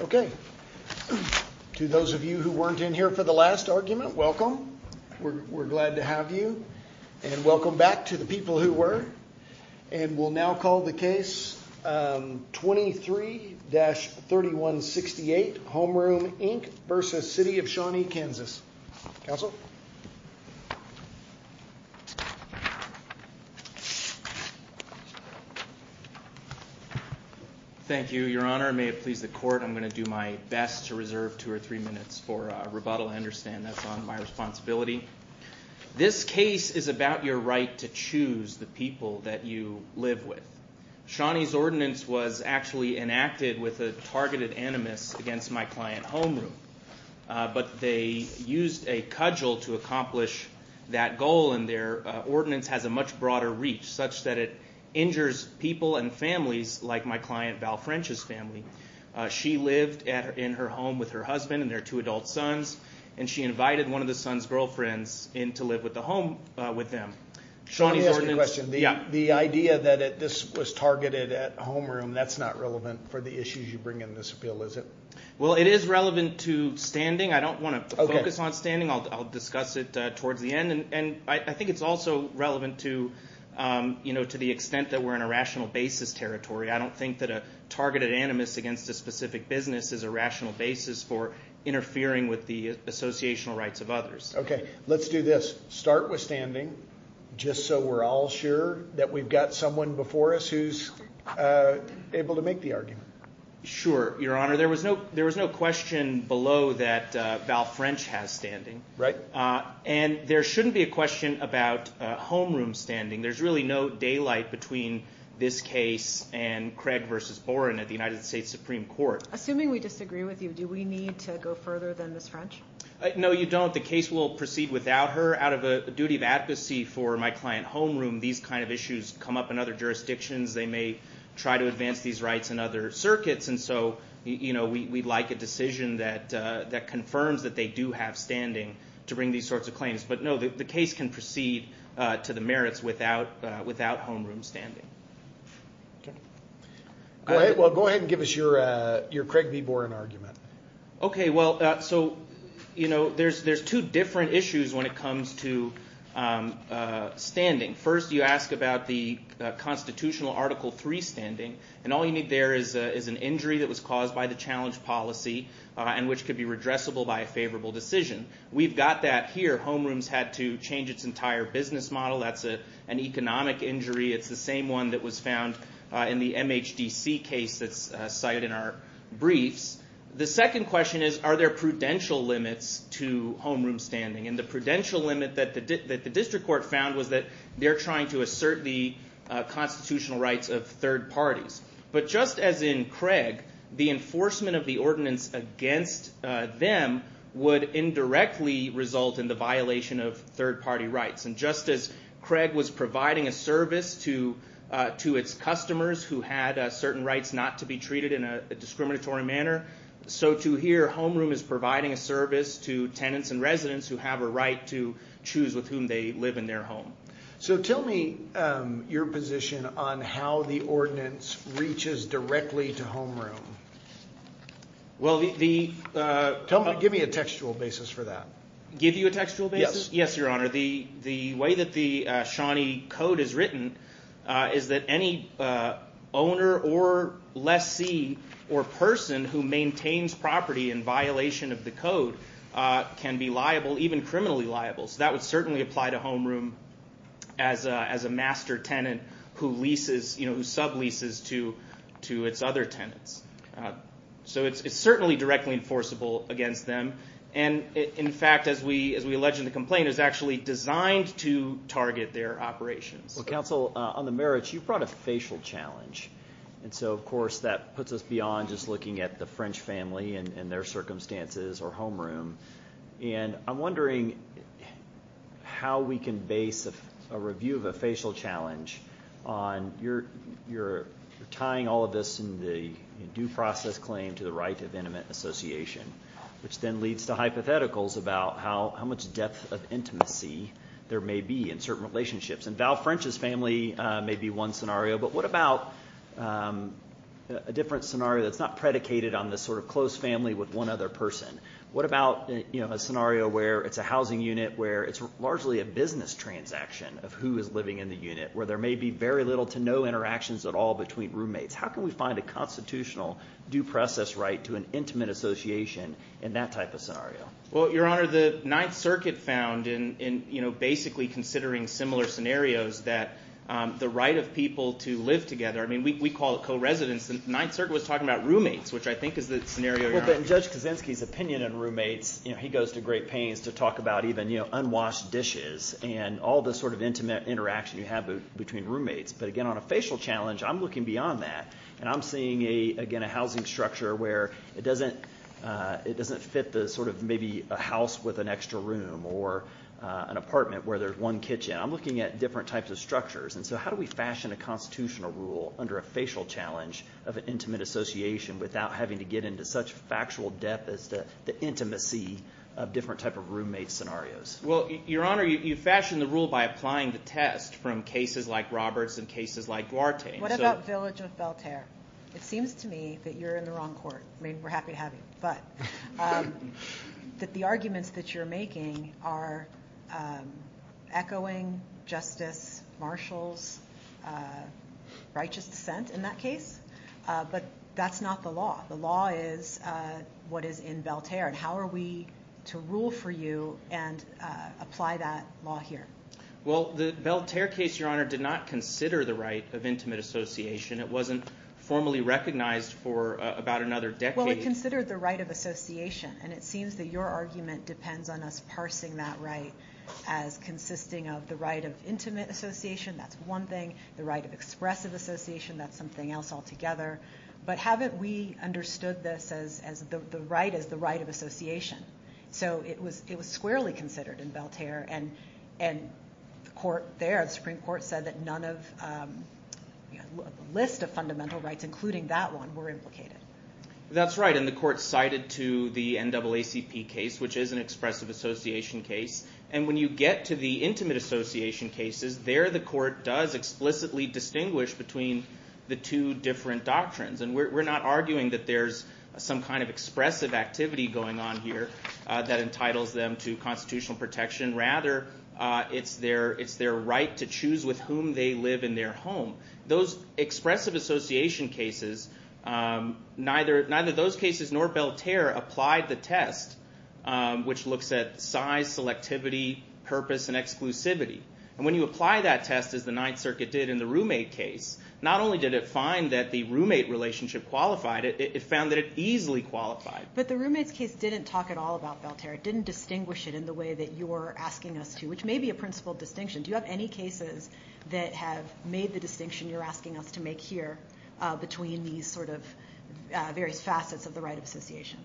Okay. To those of you who weren't in here for the last argument, welcome. We're glad to have you. And welcome back to the people who were. And we'll now call the case 23-3168 Homeroom, Inc. v. City of Shawnee, Kansas. Counsel? Thank you, Your Honor. May it please the court, I'm going to do my best to reserve two or three minutes for rebuttal. I understand that's not my responsibility. This case is about your right to choose the people that you live with. Shawnee's ordinance was actually enacted with a targeted animus against my client, Homeroom. But they used a cudgel to accomplish that goal, and their ordinance has a much broader reach, such that it injures people and families like my client, Val French's family. She lived in her home with her husband and their two adult sons, and she invited one of the son's girlfriends in to live with the home, with them. Shawnee's ordinance... Let me ask you a question. The idea that this was targeted at Homeroom, that's not relevant for the issues you bring in this appeal, is it? Well, it is relevant to standing. I don't want to focus on standing. I'll discuss it towards the end. And I think it's also relevant to the extent that we're in a rational basis territory. I don't think that a targeted animus against a specific business is a rational basis for interfering with the associational rights of others. Okay. Let's do this. Start with standing, just so we're all sure that we've got someone before us who's able to make the argument. Sure, Your Honor. There was no question below that Val French has standing. Right. And there shouldn't be a question about Homeroom standing. There's really no daylight between this case and Craig versus Boren at the United States Supreme Court. Assuming we disagree with you, do we need to go further than Ms. French? No, you don't. The case will proceed without her. Out of a duty of advocacy for my client, Homeroom, these kind of issues come up in other jurisdictions. They may try to advance these rights in other circuits. And so we'd like a decision that confirms that they do have standing to bring these sorts of claims. But no, the case can proceed to the merits without Homeroom standing. Okay. Well, go ahead and give us your Craig v. Boren argument. Okay. Well, so, you know, there's two different issues when it comes to standing. First, you ask about the constitutional Article III standing. And all you need there is an injury that was caused by the challenge policy, and which could be redressable by a favorable decision. We've got that here. Homeroom's had to change its entire business model. That's an economic injury. It's the same one that was found in the MHDC case that's cited in our briefs. The second question is, are there prudential limits to Homeroom standing? And the prudential limit that the district court found was that they're trying to assert the constitutional rights of third parties. But just as in Craig, the enforcement of the ordinance against them would indirectly result in the violation of third party rights. And just as Craig was providing a service to its customers who had certain rights not to be treated in a discriminatory manner, so too here Homeroom is providing a service to tenants and residents who have a right to choose with whom they live in their home. So tell me your position on how the ordinance reaches directly to Homeroom. Well the... Give me a textual basis for that. Give you a textual basis? Yes, your honor. The way that the Shawnee code is written is that any owner or lessee or person who maintains property in violation of the code can be liable, even criminally liable. So that would certainly apply to Homeroom as a master tenant who leases, who sub-leases to its other tenants. So it's certainly directly enforceable against them. And in fact as we mentioned, the complaint is actually designed to target their operations. Well counsel, on the merits, you brought a facial challenge. And so of course that puts us beyond just looking at the French family and their circumstances or Homeroom. And I'm wondering how we can base a review of a facial challenge on your tying all of this in the due process claim to the right of intimate association, which then leads to hypotheticals about how much depth of intimacy there may be in certain relationships. And Val French's family may be one scenario, but what about a different scenario that's not predicated on this sort of close family with one other person? What about a scenario where it's a housing unit where it's largely a business transaction of who is living in the unit, where there may be very little to no interactions at all between roommates? How can we find a constitutional due process right to an intimate association in that type of scenario? Well, Your Honor, the Ninth Circuit found in basically considering similar scenarios that the right of people to live together, I mean we call it co-residence, the Ninth Circuit was talking about roommates, which I think is the scenario you're on. Well, but in Judge Kaczynski's opinion on roommates, he goes to great pains to talk about even unwashed dishes and all the sort of intimate interaction you have between roommates. But again, on a facial challenge, I'm looking beyond that. And I'm seeing again a housing structure where it doesn't fit the sort of maybe a house with an extra room or an apartment where there's one kitchen. I'm looking at different types of structures. And so how do we fashion a constitutional rule under a facial challenge of an intimate association without having to get into such factual depth as the intimacy of different type of roommate scenarios? Well, Your Honor, you fashion the rule by applying the test from cases like Roberts and cases like Duarte. What about Village of Beltaire? It seems to me that you're in the wrong court. I mean, we're happy to have you. But that the arguments that you're making are echoing Justice Marshall's righteous dissent in that case. But that's not the law. The law is what is in Beltaire. And how are we to rule for you and apply that law here? Well, the Beltaire case, Your Honor, did not consider the right of intimate association. It wasn't formally recognized for about another decade. Well, it considered the right of association. And it seems that your argument depends on us parsing that right as consisting of the right of intimate association. That's one thing. The right of expressive association, that's something else altogether. But haven't we understood this as the right of association? So it was squarely considered in Beltaire. And the court there, the Supreme Court, said that none of the list of fundamental rights, including that one, were implicated. That's right. And the court cited to the NAACP case, which is an expressive association case. And when you get to the intimate association cases, there the court does explicitly distinguish between the two different doctrines. And we're not arguing that there's some kind of expressive activity going on here that entitles them to constitutional protection. Rather, it's their right to choose with whom they live in their home. Those expressive association cases, neither those cases nor Beltaire applied the test, which looks at size, selectivity, purpose, and exclusivity. And when you apply that test, as the Ninth Circuit did in the roommate case, not only did it find that the roommate relationship qualified it, it found that it easily qualified. But the roommate's case didn't talk at all about Beltaire. It didn't distinguish it in the way that you're asking us to, which may be a principled distinction. Do you have any cases that have made the distinction you're asking us to make here between these sort of various facets of the right of association?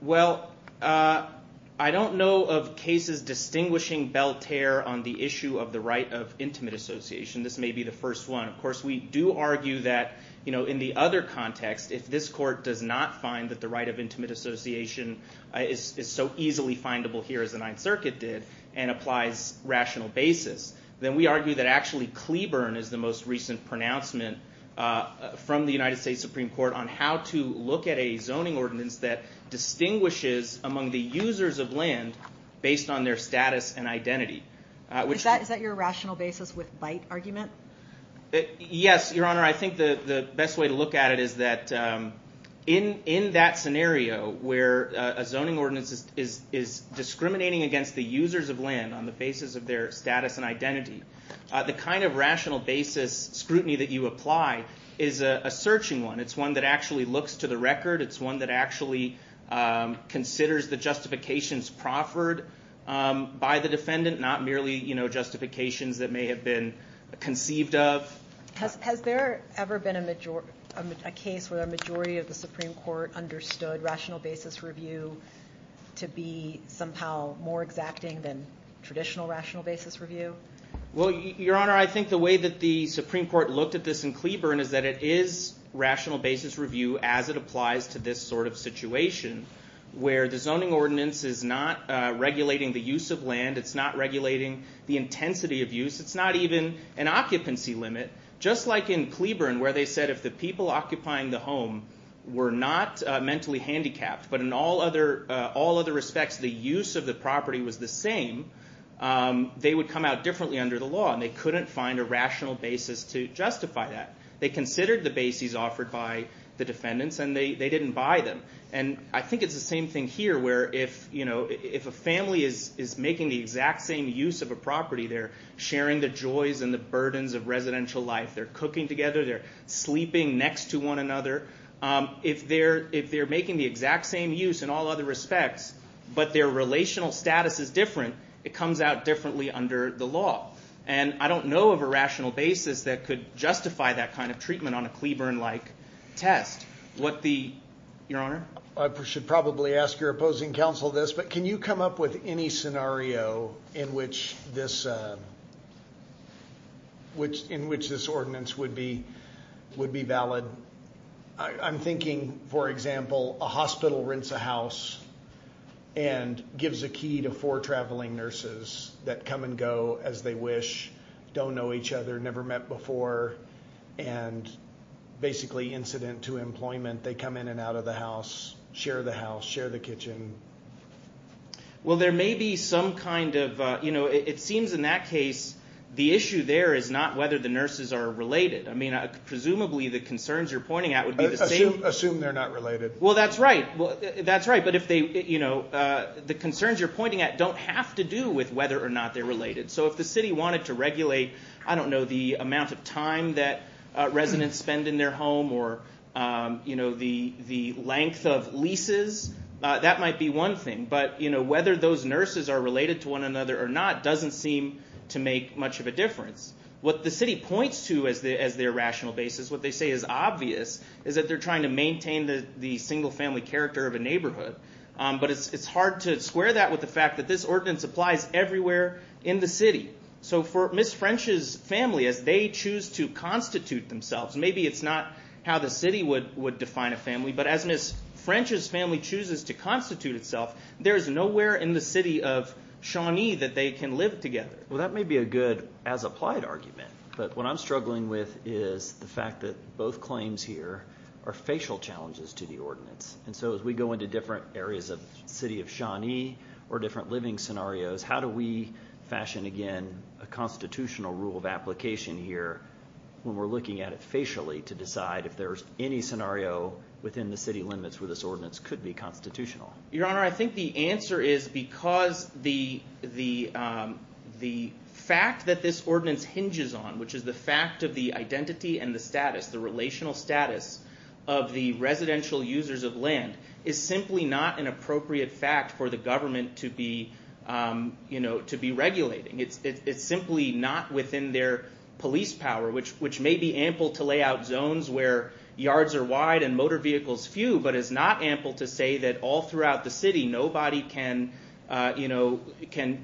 Well, I don't know of cases distinguishing Beltaire on the issue of the right of intimate association. This may be the first one. Of course, we do argue that in the other context, if this court does not find that the right of intimate association is so easily findable here as the Ninth Circuit did and applies rational basis, then we argue that actually Cleburne is the most recent pronouncement from the United States Supreme Court on how to look at a zoning ordinance that distinguishes among the users of land based on their status and identity. Is that your rational basis with bite argument? Yes, Your Honor. I think the best way to look at it is that in that scenario where a zoning ordinance is discriminating against the users of land on the basis of their status and identity, the kind of rational basis scrutiny that you apply is a searching one. It's one that actually looks to the record. It's one that actually considers the justifications proffered by the defendant, not merely justifications that may have been conceived of. Has there ever been a case where a majority of the Supreme Court understood rational basis review to be somehow more exacting than traditional rational basis review? Your Honor, I think the way that the Supreme Court looked at this in Cleburne is that it is rational basis review as it applies to this sort of situation where the zoning ordinance is not regulating the use of land, it's not regulating the intensity of use, it's not even an occupancy limit. Just like in Cleburne where they said if the people occupying the home were not mentally handicapped but in all other respects the use of the property was the same, they would come out differently under the law and they couldn't find a rational basis to justify that. They considered the basis offered by the defendants and they didn't buy them. I think it's the same thing here where if a family is making the exact same use of a property, they're sharing the joys and the burdens of residential life, they're cooking together, they're sleeping next to one another. If they're making the exact same use in all other respects but their relational status is different, it comes out differently under the law. I don't know of a rational basis that could justify that kind of treatment on a Cleburne-like test. Your Honor? I should probably ask your opposing counsel this, but can you come up with any scenario in which this ordinance would be valid? I'm thinking, for example, a hospital rents a house and gives a key to four traveling nurses that come and go as they wish, don't know each other, never met before, and basically incident to employment, they come in and out of the house, share the house, share the kitchen. Well there may be some kind of, it seems in that case the issue there is not whether the nurses are related. Presumably the concerns you're pointing at would be the same. Assume they're not related. Well that's right, but the concerns you're pointing at don't have to do with whether or not they're related. So if the city wanted to regulate, I don't know, the amount of time that residents spend in their home or the length of leases, that might be one thing. But whether those nurses are related to one another or not doesn't seem to make much of a difference. What the city points to as their rational basis, what they say is obvious, is that they're trying to maintain the single family character of a neighborhood. But it's hard to square that with the fact that this ordinance applies everywhere in the city. So for Ms. French's family, as they choose to constitute themselves, maybe it's not how the city would define a family, but as Ms. French's family chooses to constitute itself, there's nowhere in the city of Shawnee that they can live together. Well that may be a good as-applied argument, but what I'm struggling with is the fact that both claims here are facial challenges to the ordinance. And so as we go into different areas of the city of Shawnee or different living scenarios, how do we fashion, again, a constitutional rule of application here when we're looking at it facially to decide if there's any scenario within the city limits where this ordinance could be constitutional? Your Honor, I think the answer is because the fact that this ordinance hinges on, which is the fact of the identity and the status, the relational status of the residential users of land, is simply not an appropriate fact for the government to be regulating. It's simply not within their police power, which may be ample to lay out zones where yards are wide and motor vehicles few, but is not ample to say that all throughout the city nobody can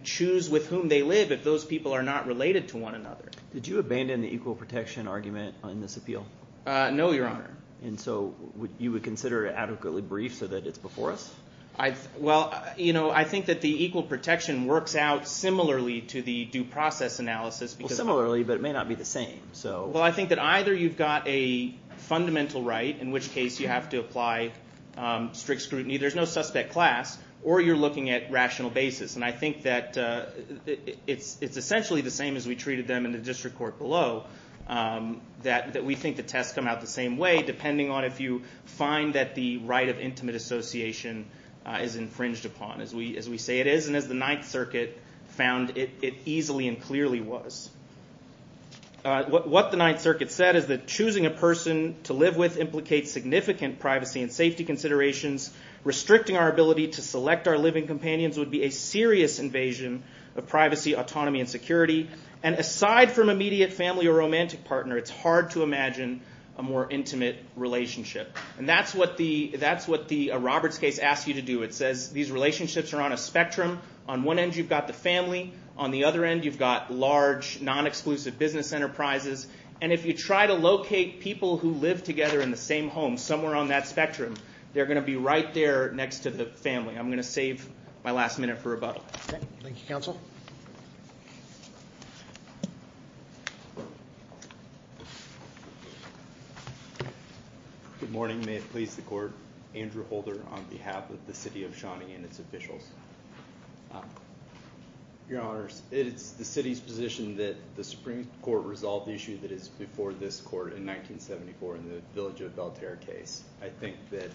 choose with whom they live if those people are not related to one another. Did you abandon the equal protection argument on this appeal? No, Your Honor. And so you would consider it adequately brief so that it's before us? Well, I think that the equal protection works out similarly to the due process analysis. Well, similarly, but it may not be the same. Well, I think that either you've got a fundamental right, in which case you have to apply strict scrutiny. There's no suspect class, or you're looking at rational basis. And I think that it's essentially the same as we treated them in the district court below, that we think the tests come out the same way, depending on if you find that the right of intimate association is infringed upon, as we say it is, and as the Ninth Circuit found it easily and clearly was. What the Ninth Circuit said is that choosing a person to live with implicates significant privacy and safety considerations. Restricting our ability to select our living companions would be a serious invasion of privacy, autonomy, and security. And aside from immediate family or romantic partner, it's hard to imagine a more intimate relationship. And that's what the Roberts case asks you to do. It says these relationships are on a spectrum. On one end, you've got the family. On the other end, you've got large, non-exclusive business enterprises. And if you try to locate people who live together in the same home, somewhere on that spectrum, they're going to be right there next to the family. I'm going to save my last minute for rebuttal. Okay. Thank you, counsel. Good morning. May it please the court. Andrew Holder on behalf of the City of Shawnee and its officials. Your honors, it is the City's position that the Supreme Court resolve the issue that is before this court in 1974 in the Village of Belterre case. I think that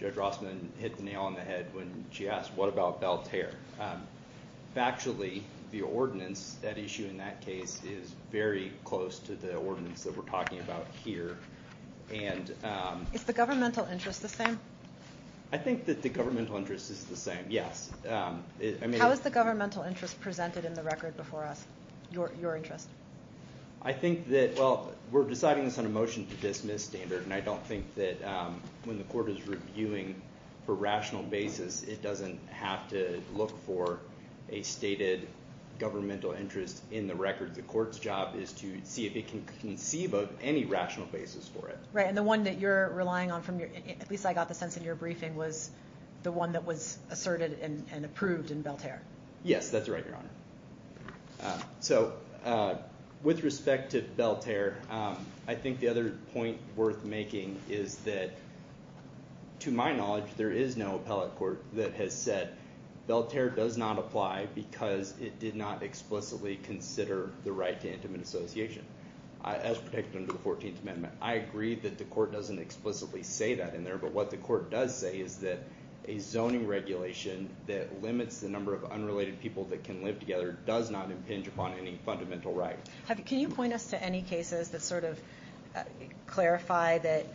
Judge Rossman hit the nail on the head when she asked, what about Belterre? Factually, the ordinance that issue in that case is very close to the ordinance that we're talking about here. Is the governmental interest the same? I think that the governmental interest is the same, yes. How is the governmental interest presented in the record before us, your interest? I think that, well, we're deciding this on a motion to dismiss standard, and I don't think that when the court is reviewing for rational basis, it doesn't have to look for a stated governmental interest in the record. The court's job is to see if it can conceive of any rational basis for it. Right. And the one that you're relying on from your, at least I got the sense in your briefing, was the one that was asserted and approved in Belterre. Yes, that's right, your honor. With respect to Belterre, I think the other point worth making is that, to my knowledge, there is no appellate court that has said, Belterre does not apply because it did not explicitly consider the right to intimate association as protected under the 14th Amendment. I agree that the court doesn't explicitly say that in there, but what the court does say is that a zoning regulation that limits the number of unrelated people that can live together does not impinge upon any fundamental right. Can you point us to any cases that sort of clarify that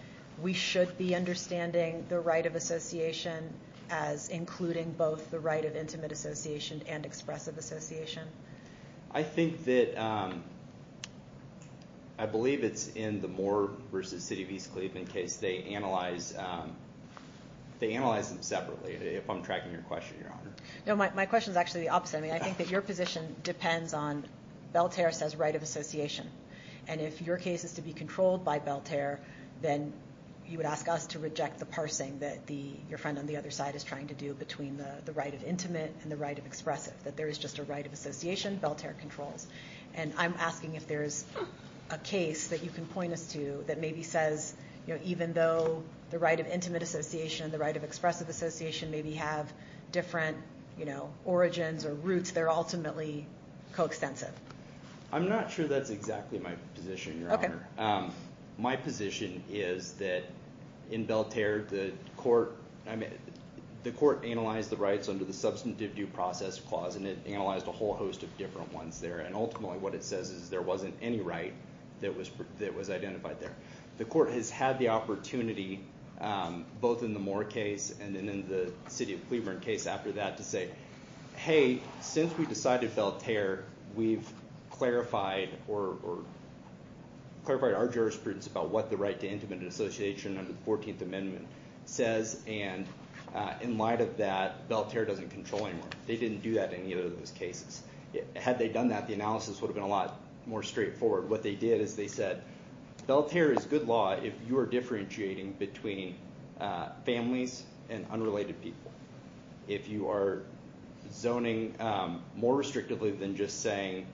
we should be understanding the right of association as including both the right of intimate association and expressive association? I think that, I believe it's in the Moore v. City of East Cleveland case. They analyze them separately, if I'm tracking your question, your honor. My question is actually the opposite. I think that your position depends on, Belterre says right of association, and if your case is to be controlled by Belterre, then you would ask us to reject the parsing that your friend on the other side is trying to do between the right of intimate and the right of expressive, that there is just a right of association Belterre controls. And I'm asking if there's a case that you can point us to that maybe says even though the right of intimate association and the right of expressive association maybe have different origins or roots, they're ultimately coextensive. I'm not sure that's exactly my position, your honor. My position is that in Belterre, the court analyzed the rights under the substantive due process clause, and it analyzed a whole host of different ones there, and ultimately what it says is there wasn't any right that was identified there. The court has had the opportunity, both in the Moore case and in the City of Cleveland case after that, to say, hey, since we decided Belterre, we've clarified our jurisprudence about what the right to intimate association under the 14th Amendment says, and in light of that, Belterre doesn't control anymore. They didn't do that in either of those cases. Had they done that, the analysis would have been a lot more straightforward. What they did is they said, Belterre is good law if you are differentiating between families and unrelated people. If you are zoning more restrictively than just saying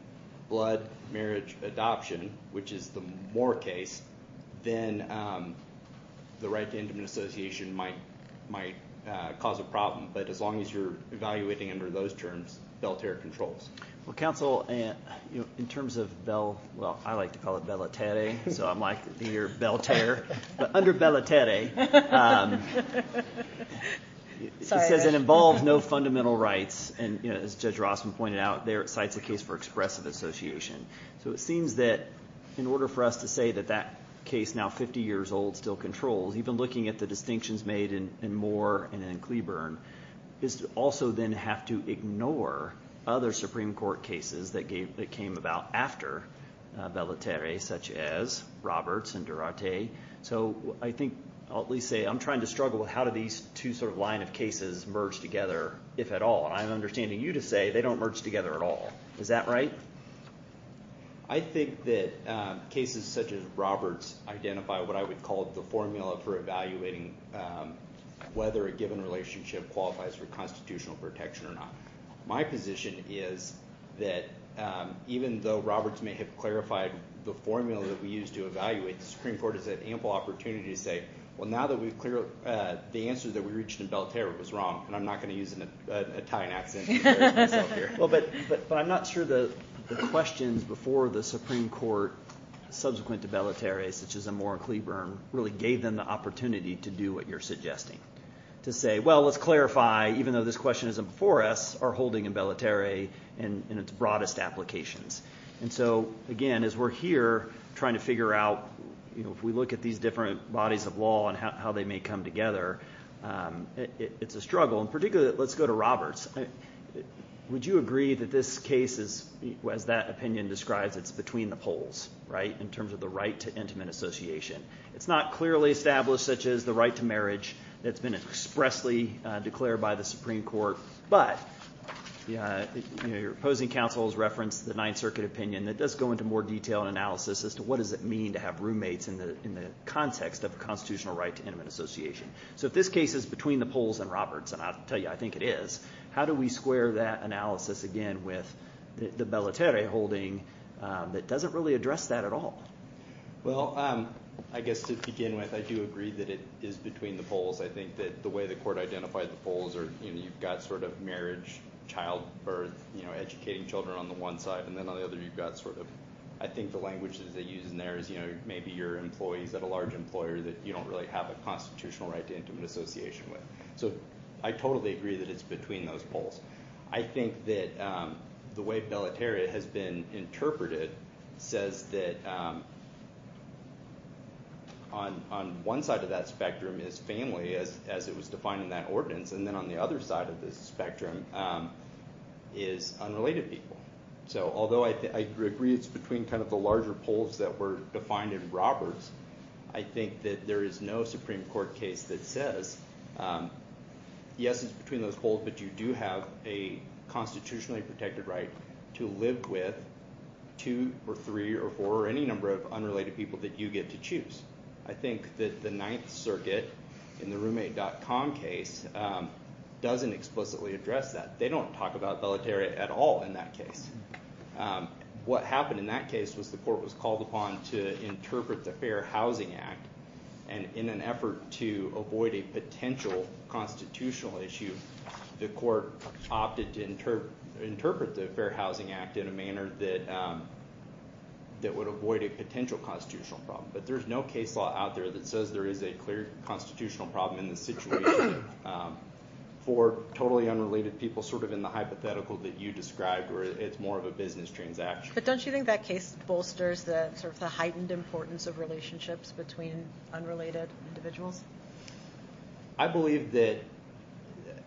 blood marriage adoption, which is the Moore case, then the right to intimate association might cause a problem, but as long as you're evaluating under those terms, Belterre controls. Well, counsel, in terms of Bel... Well, I like to call it Belaterre, so I'm like the year Belterre, but under Belaterre, it says it involves no fundamental rights, and as a case for expressive association. So it seems that in order for us to say that that case now 50 years old still controls, even looking at the distinctions made in Moore and in Cleburne, is to also then have to ignore other Supreme Court cases that came about after Belaterre, such as Roberts and Duarte. So I think I'll at least say I'm trying to struggle with how do these two sort of line of cases merge together, if at all, and I'm not sure that's the right way to do it. Is that right? I think that cases such as Roberts identify what I would call the formula for evaluating whether a given relationship qualifies for constitutional protection or not. My position is that even though Roberts may have clarified the formula that we use to evaluate, the Supreme Court has had ample opportunity to say, well, now that we've cleared... The answer that we reached in Belaterre was wrong, and I'm not going to use an Italian accent to express that. I'm sure the questions before the Supreme Court, subsequent to Belaterre, such as in Moore and Cleburne, really gave them the opportunity to do what you're suggesting, to say, well, let's clarify, even though this question isn't before us, our holding in Belaterre and its broadest applications. And so, again, as we're here trying to figure out, if we look at these different bodies of law and how they may come together, it's a struggle. And particularly, let's go to Roberts. Would you agree that this case, as that opinion describes, is between the poles, right, in terms of the right to intimate association? It's not clearly established such as the right to marriage that's been expressly declared by the Supreme Court, but your opposing counsel has referenced the Ninth Circuit opinion that does go into more detail and analysis as to what does it mean to have roommates in the context of a constitutional right to intimate association. So if this case is between the poles and Roberts, and I'll tell you, I think it is, how do we square that analysis, again, with the Belaterre holding that doesn't really address that at all? Well, I guess to begin with, I do agree that it is between the poles. I think that the way the court identified the poles are, you know, you've got sort of marriage, childbirth, you know, educating children on the one side, and then on the other you've got sort of, I think the language that they use in there is, you know, maybe your employees at a large employer that you don't really have a constitutional right to intimate association with. So I totally agree that it's between those poles. I think that the way Belaterre has been interpreted says that on one side of that spectrum is family, as it was defined in that ordinance, and then on the other side of the spectrum is unrelated people. So although I agree it's between kind of the larger poles that were defined in Roberts, I think that there is no Supreme Court case that says, yes, it's between those poles, but you do have a constitutionally protected right to live with two or three or four or any number of unrelated people that you get to choose. I think that the Ninth Circuit in the Roommate.com case doesn't explicitly address that. They don't talk about Belaterre at all in that case. What happened in that case was the court was called upon to interpret the Fair Housing Act, and in an effort to avoid a potential constitutional issue, the court opted to interpret the Fair Housing Act in a manner that would avoid a potential constitutional problem. But there's no case law out there that says there is a clear constitutional problem in this situation for totally unrelated people, sort of in the hypothetical that you described, where it's more of a business transaction. But don't you think that case bolsters the heightened importance of relationships between unrelated individuals? I believe that,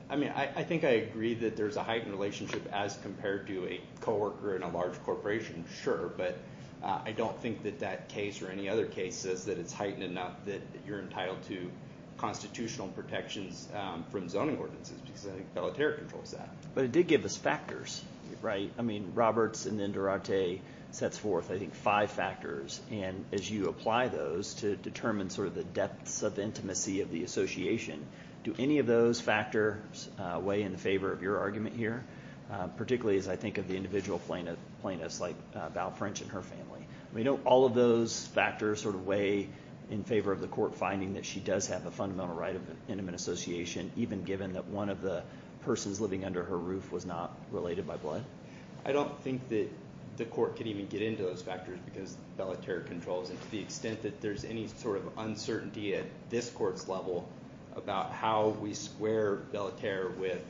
I mean, I think I agree that there's a heightened relationship as compared to a coworker in a large corporation, sure, but I don't think that that case or any other case says that it's heightened enough that you're entitled to constitutional protections from zoning ordinances, because I think Belaterre controls that. But it did give us factors, right? I mean, Roberts and then Durarte sets forth, I think, five factors, and as you apply those to determine sort of the depths of intimacy of the association, do any of those factors weigh in favor of your argument here, particularly as I think of the individual plaintiffs like Val French and her family? I mean, don't all of those factors sort of weigh in favor of the court finding that she does have a fundamental right of an intimate association, even given that one of the persons living under her roof was not related by blood? I don't think that the court could even get into those factors because Belaterre controls them. To the extent that there's any sort of uncertainty at this court's level about how we square Belaterre with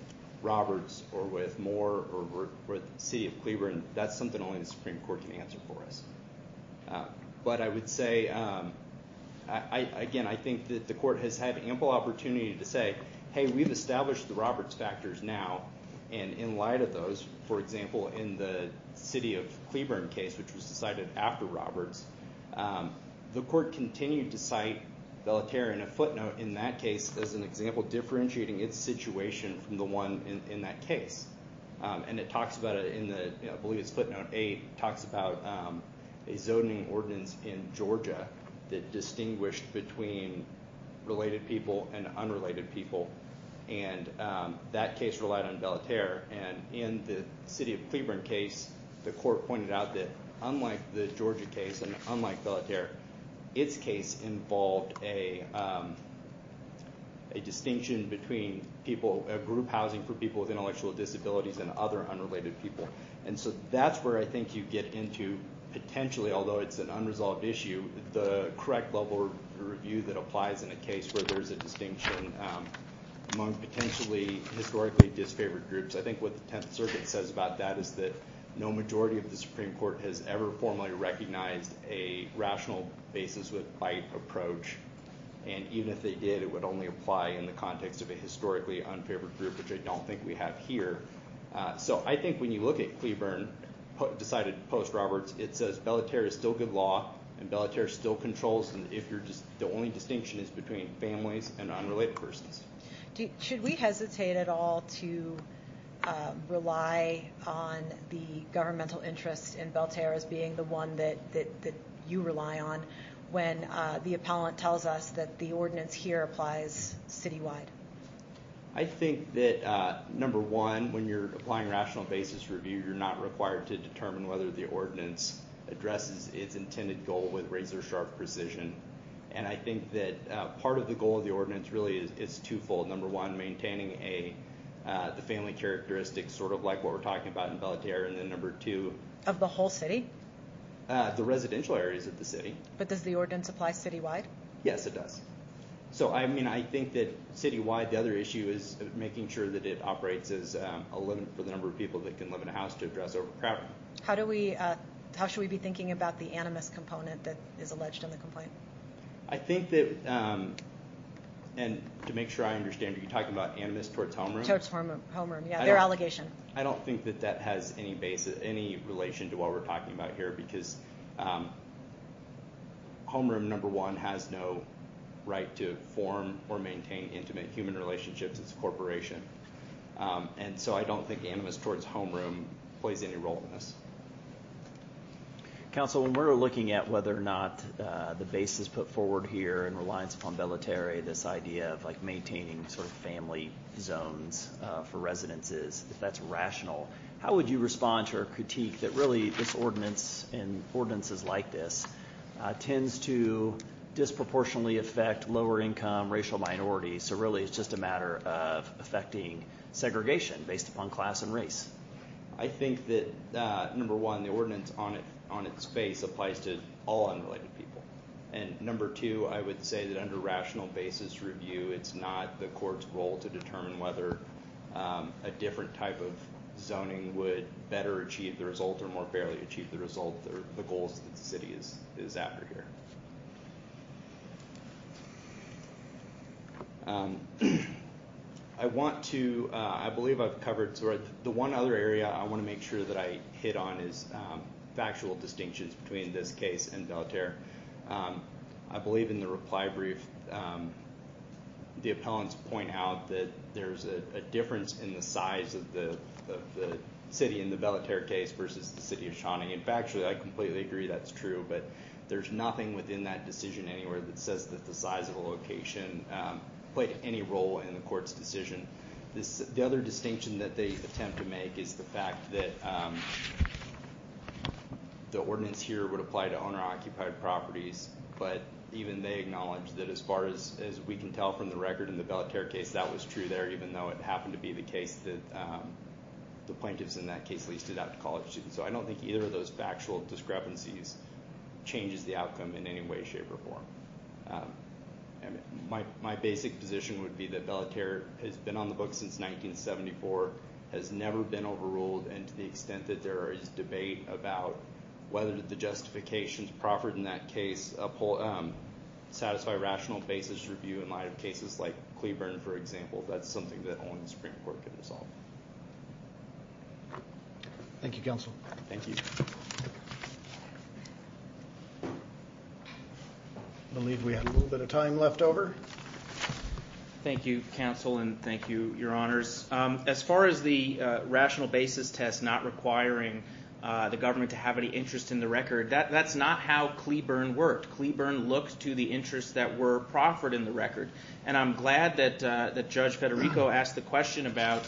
Roberts or with Moore or with the city of Cleburne, that's something only the Supreme Court can answer for us. But I would say, again, I think that the court has had ample opportunity to say, hey, we've established the Roberts factors now, and in light of those, for example, in the city of Cleburne case, which was decided after Roberts, the court continued to cite Belaterre in a footnote in that case as an example differentiating its situation from the one in that case. And it talks about it in the, I believe it's footnote eight, talks about a zoning ordinance in Georgia that distinguished between related people and unrelated people. And that case relied on Belaterre. And in the city of Cleburne case, the court pointed out that unlike the Georgia case and unlike Belaterre, its case involved a distinction between people, a group housing for people with intellectual disabilities and other unrelated people. And so that's where I think you get into potentially, although it's an unresolved issue, the correct level review that applies in a case where there's a distinction among potentially historically disfavored groups. I think what the Tenth Circuit says about that is that no majority of the Supreme Court has ever formally recognized a rational basis with bite approach. And even if they did, it would only apply in the context of a historically unfavored group, which I don't think we have here. So I think when you look at Cleburne, decided post-Roberts, it says Belaterre is still good law and Belaterre still controls if you're just, the only distinction is between families and unrelated persons. Should we hesitate at all to rely on the governmental interest in Belaterre as being the one that you rely on when the appellant tells us that the ordinance here applies citywide? I think that, number one, when you're applying rational basis review, you're not required to determine whether the ordinance addresses its intended goal with razor-sharp precision. And I think that part of the goal of the ordinance really is twofold. Number one, maintaining the family characteristics, sort of like what we're talking about in Belaterre. And then number two... Of the whole city? The residential areas of the city. But does the ordinance apply citywide? Yes, it does. So I mean, I think that citywide, the other issue is making sure that it operates as a limit for the number of people that can live in a house to address overcrowding. How should we be thinking about the animus component that is alleged in the complaint? I think that, and to make sure I understand, are you talking about animus towards homeroom? Towards homeroom, yeah, their allegation. I don't think that that has any relation to what we're talking about here, because homeroom number one has no right to form or maintain intimate human relationships as a corporation. And so I don't think animus towards homeroom plays any role in this. Counsel, when we're looking at whether or not the basis put forward here in reliance upon Belaterre, this idea of like maintaining sort of family zones for residences, if that's rational, how would you respond to our critique that really this ordinance and ordinances like this tends to disproportionately affect lower income racial minorities, so really it's just a matter of affecting segregation based upon class and race? I think that number one, the ordinance on its face applies to all unrelated people. And number two, I would say that under rational basis review, it's not the court's role to determine whether a different type of zoning would better achieve the result or more fairly achieve the result or the goals that the city is after here. I want to, I believe I've covered, the one other area I want to make sure that I hit on is factual distinctions between this case and Belaterre. I believe in the reply brief, the appellants point out that there's a difference in the size of the city in the Belaterre case versus the city of Shawnee. In factually, I completely agree that's true, but there's nothing within that decision anywhere that says that the size of the location played any role in the court's decision. The other distinction that they attempt to make is the fact that the ordinance here would apply to owner occupied properties, but even they acknowledge that as far as we can tell from the record in the Belaterre case, that was true there, even though it happened to be the case that the plaintiffs in that case leased it out to college students. I don't think either of those factual discrepancies changes the outcome in any way, shape or form. My basic position would be that Belaterre has been on the books since 1974, has never been overruled, and to the extent that there is debate about whether the justifications proffered in that case satisfy rational basis review in light of cases like Cleburne, for example, that's something that only the Supreme Court can resolve. Thank you, counsel. Thank you. I believe we have a little bit of time left over. Thank you, counsel, and thank you, your honors. As far as the rational basis test not requiring the government to have any interest in the record, that's not how Cleburne worked. Cleburne looked to the interests that were proffered in the record. I'm glad that Judge Federico asked the question about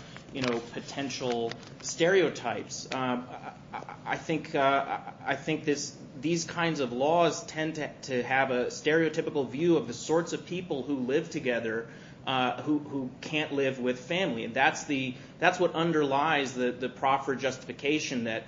potential stereotypes. I think these kinds of laws tend to have a stereotypical view of the sorts of people who live together who can't live with family. That's what underlies the proffered justification that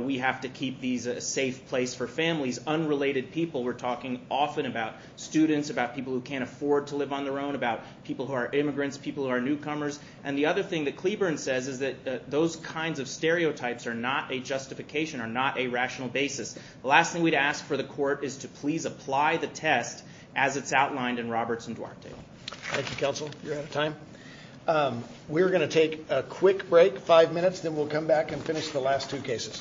we have to keep these a safe place for families. We're talking about these unrelated people. We're talking often about students, about people who can't afford to live on their own, about people who are immigrants, people who are newcomers, and the other thing that Cleburne says is that those kinds of stereotypes are not a justification, are not a rational basis. The last thing we'd ask for the court is to please apply the test as it's outlined in Roberts and Duarte. Thank you, counsel. You're out of time. We're going to take a quick break, five minutes, then we'll come back and finish the last two cases. Thank you very much.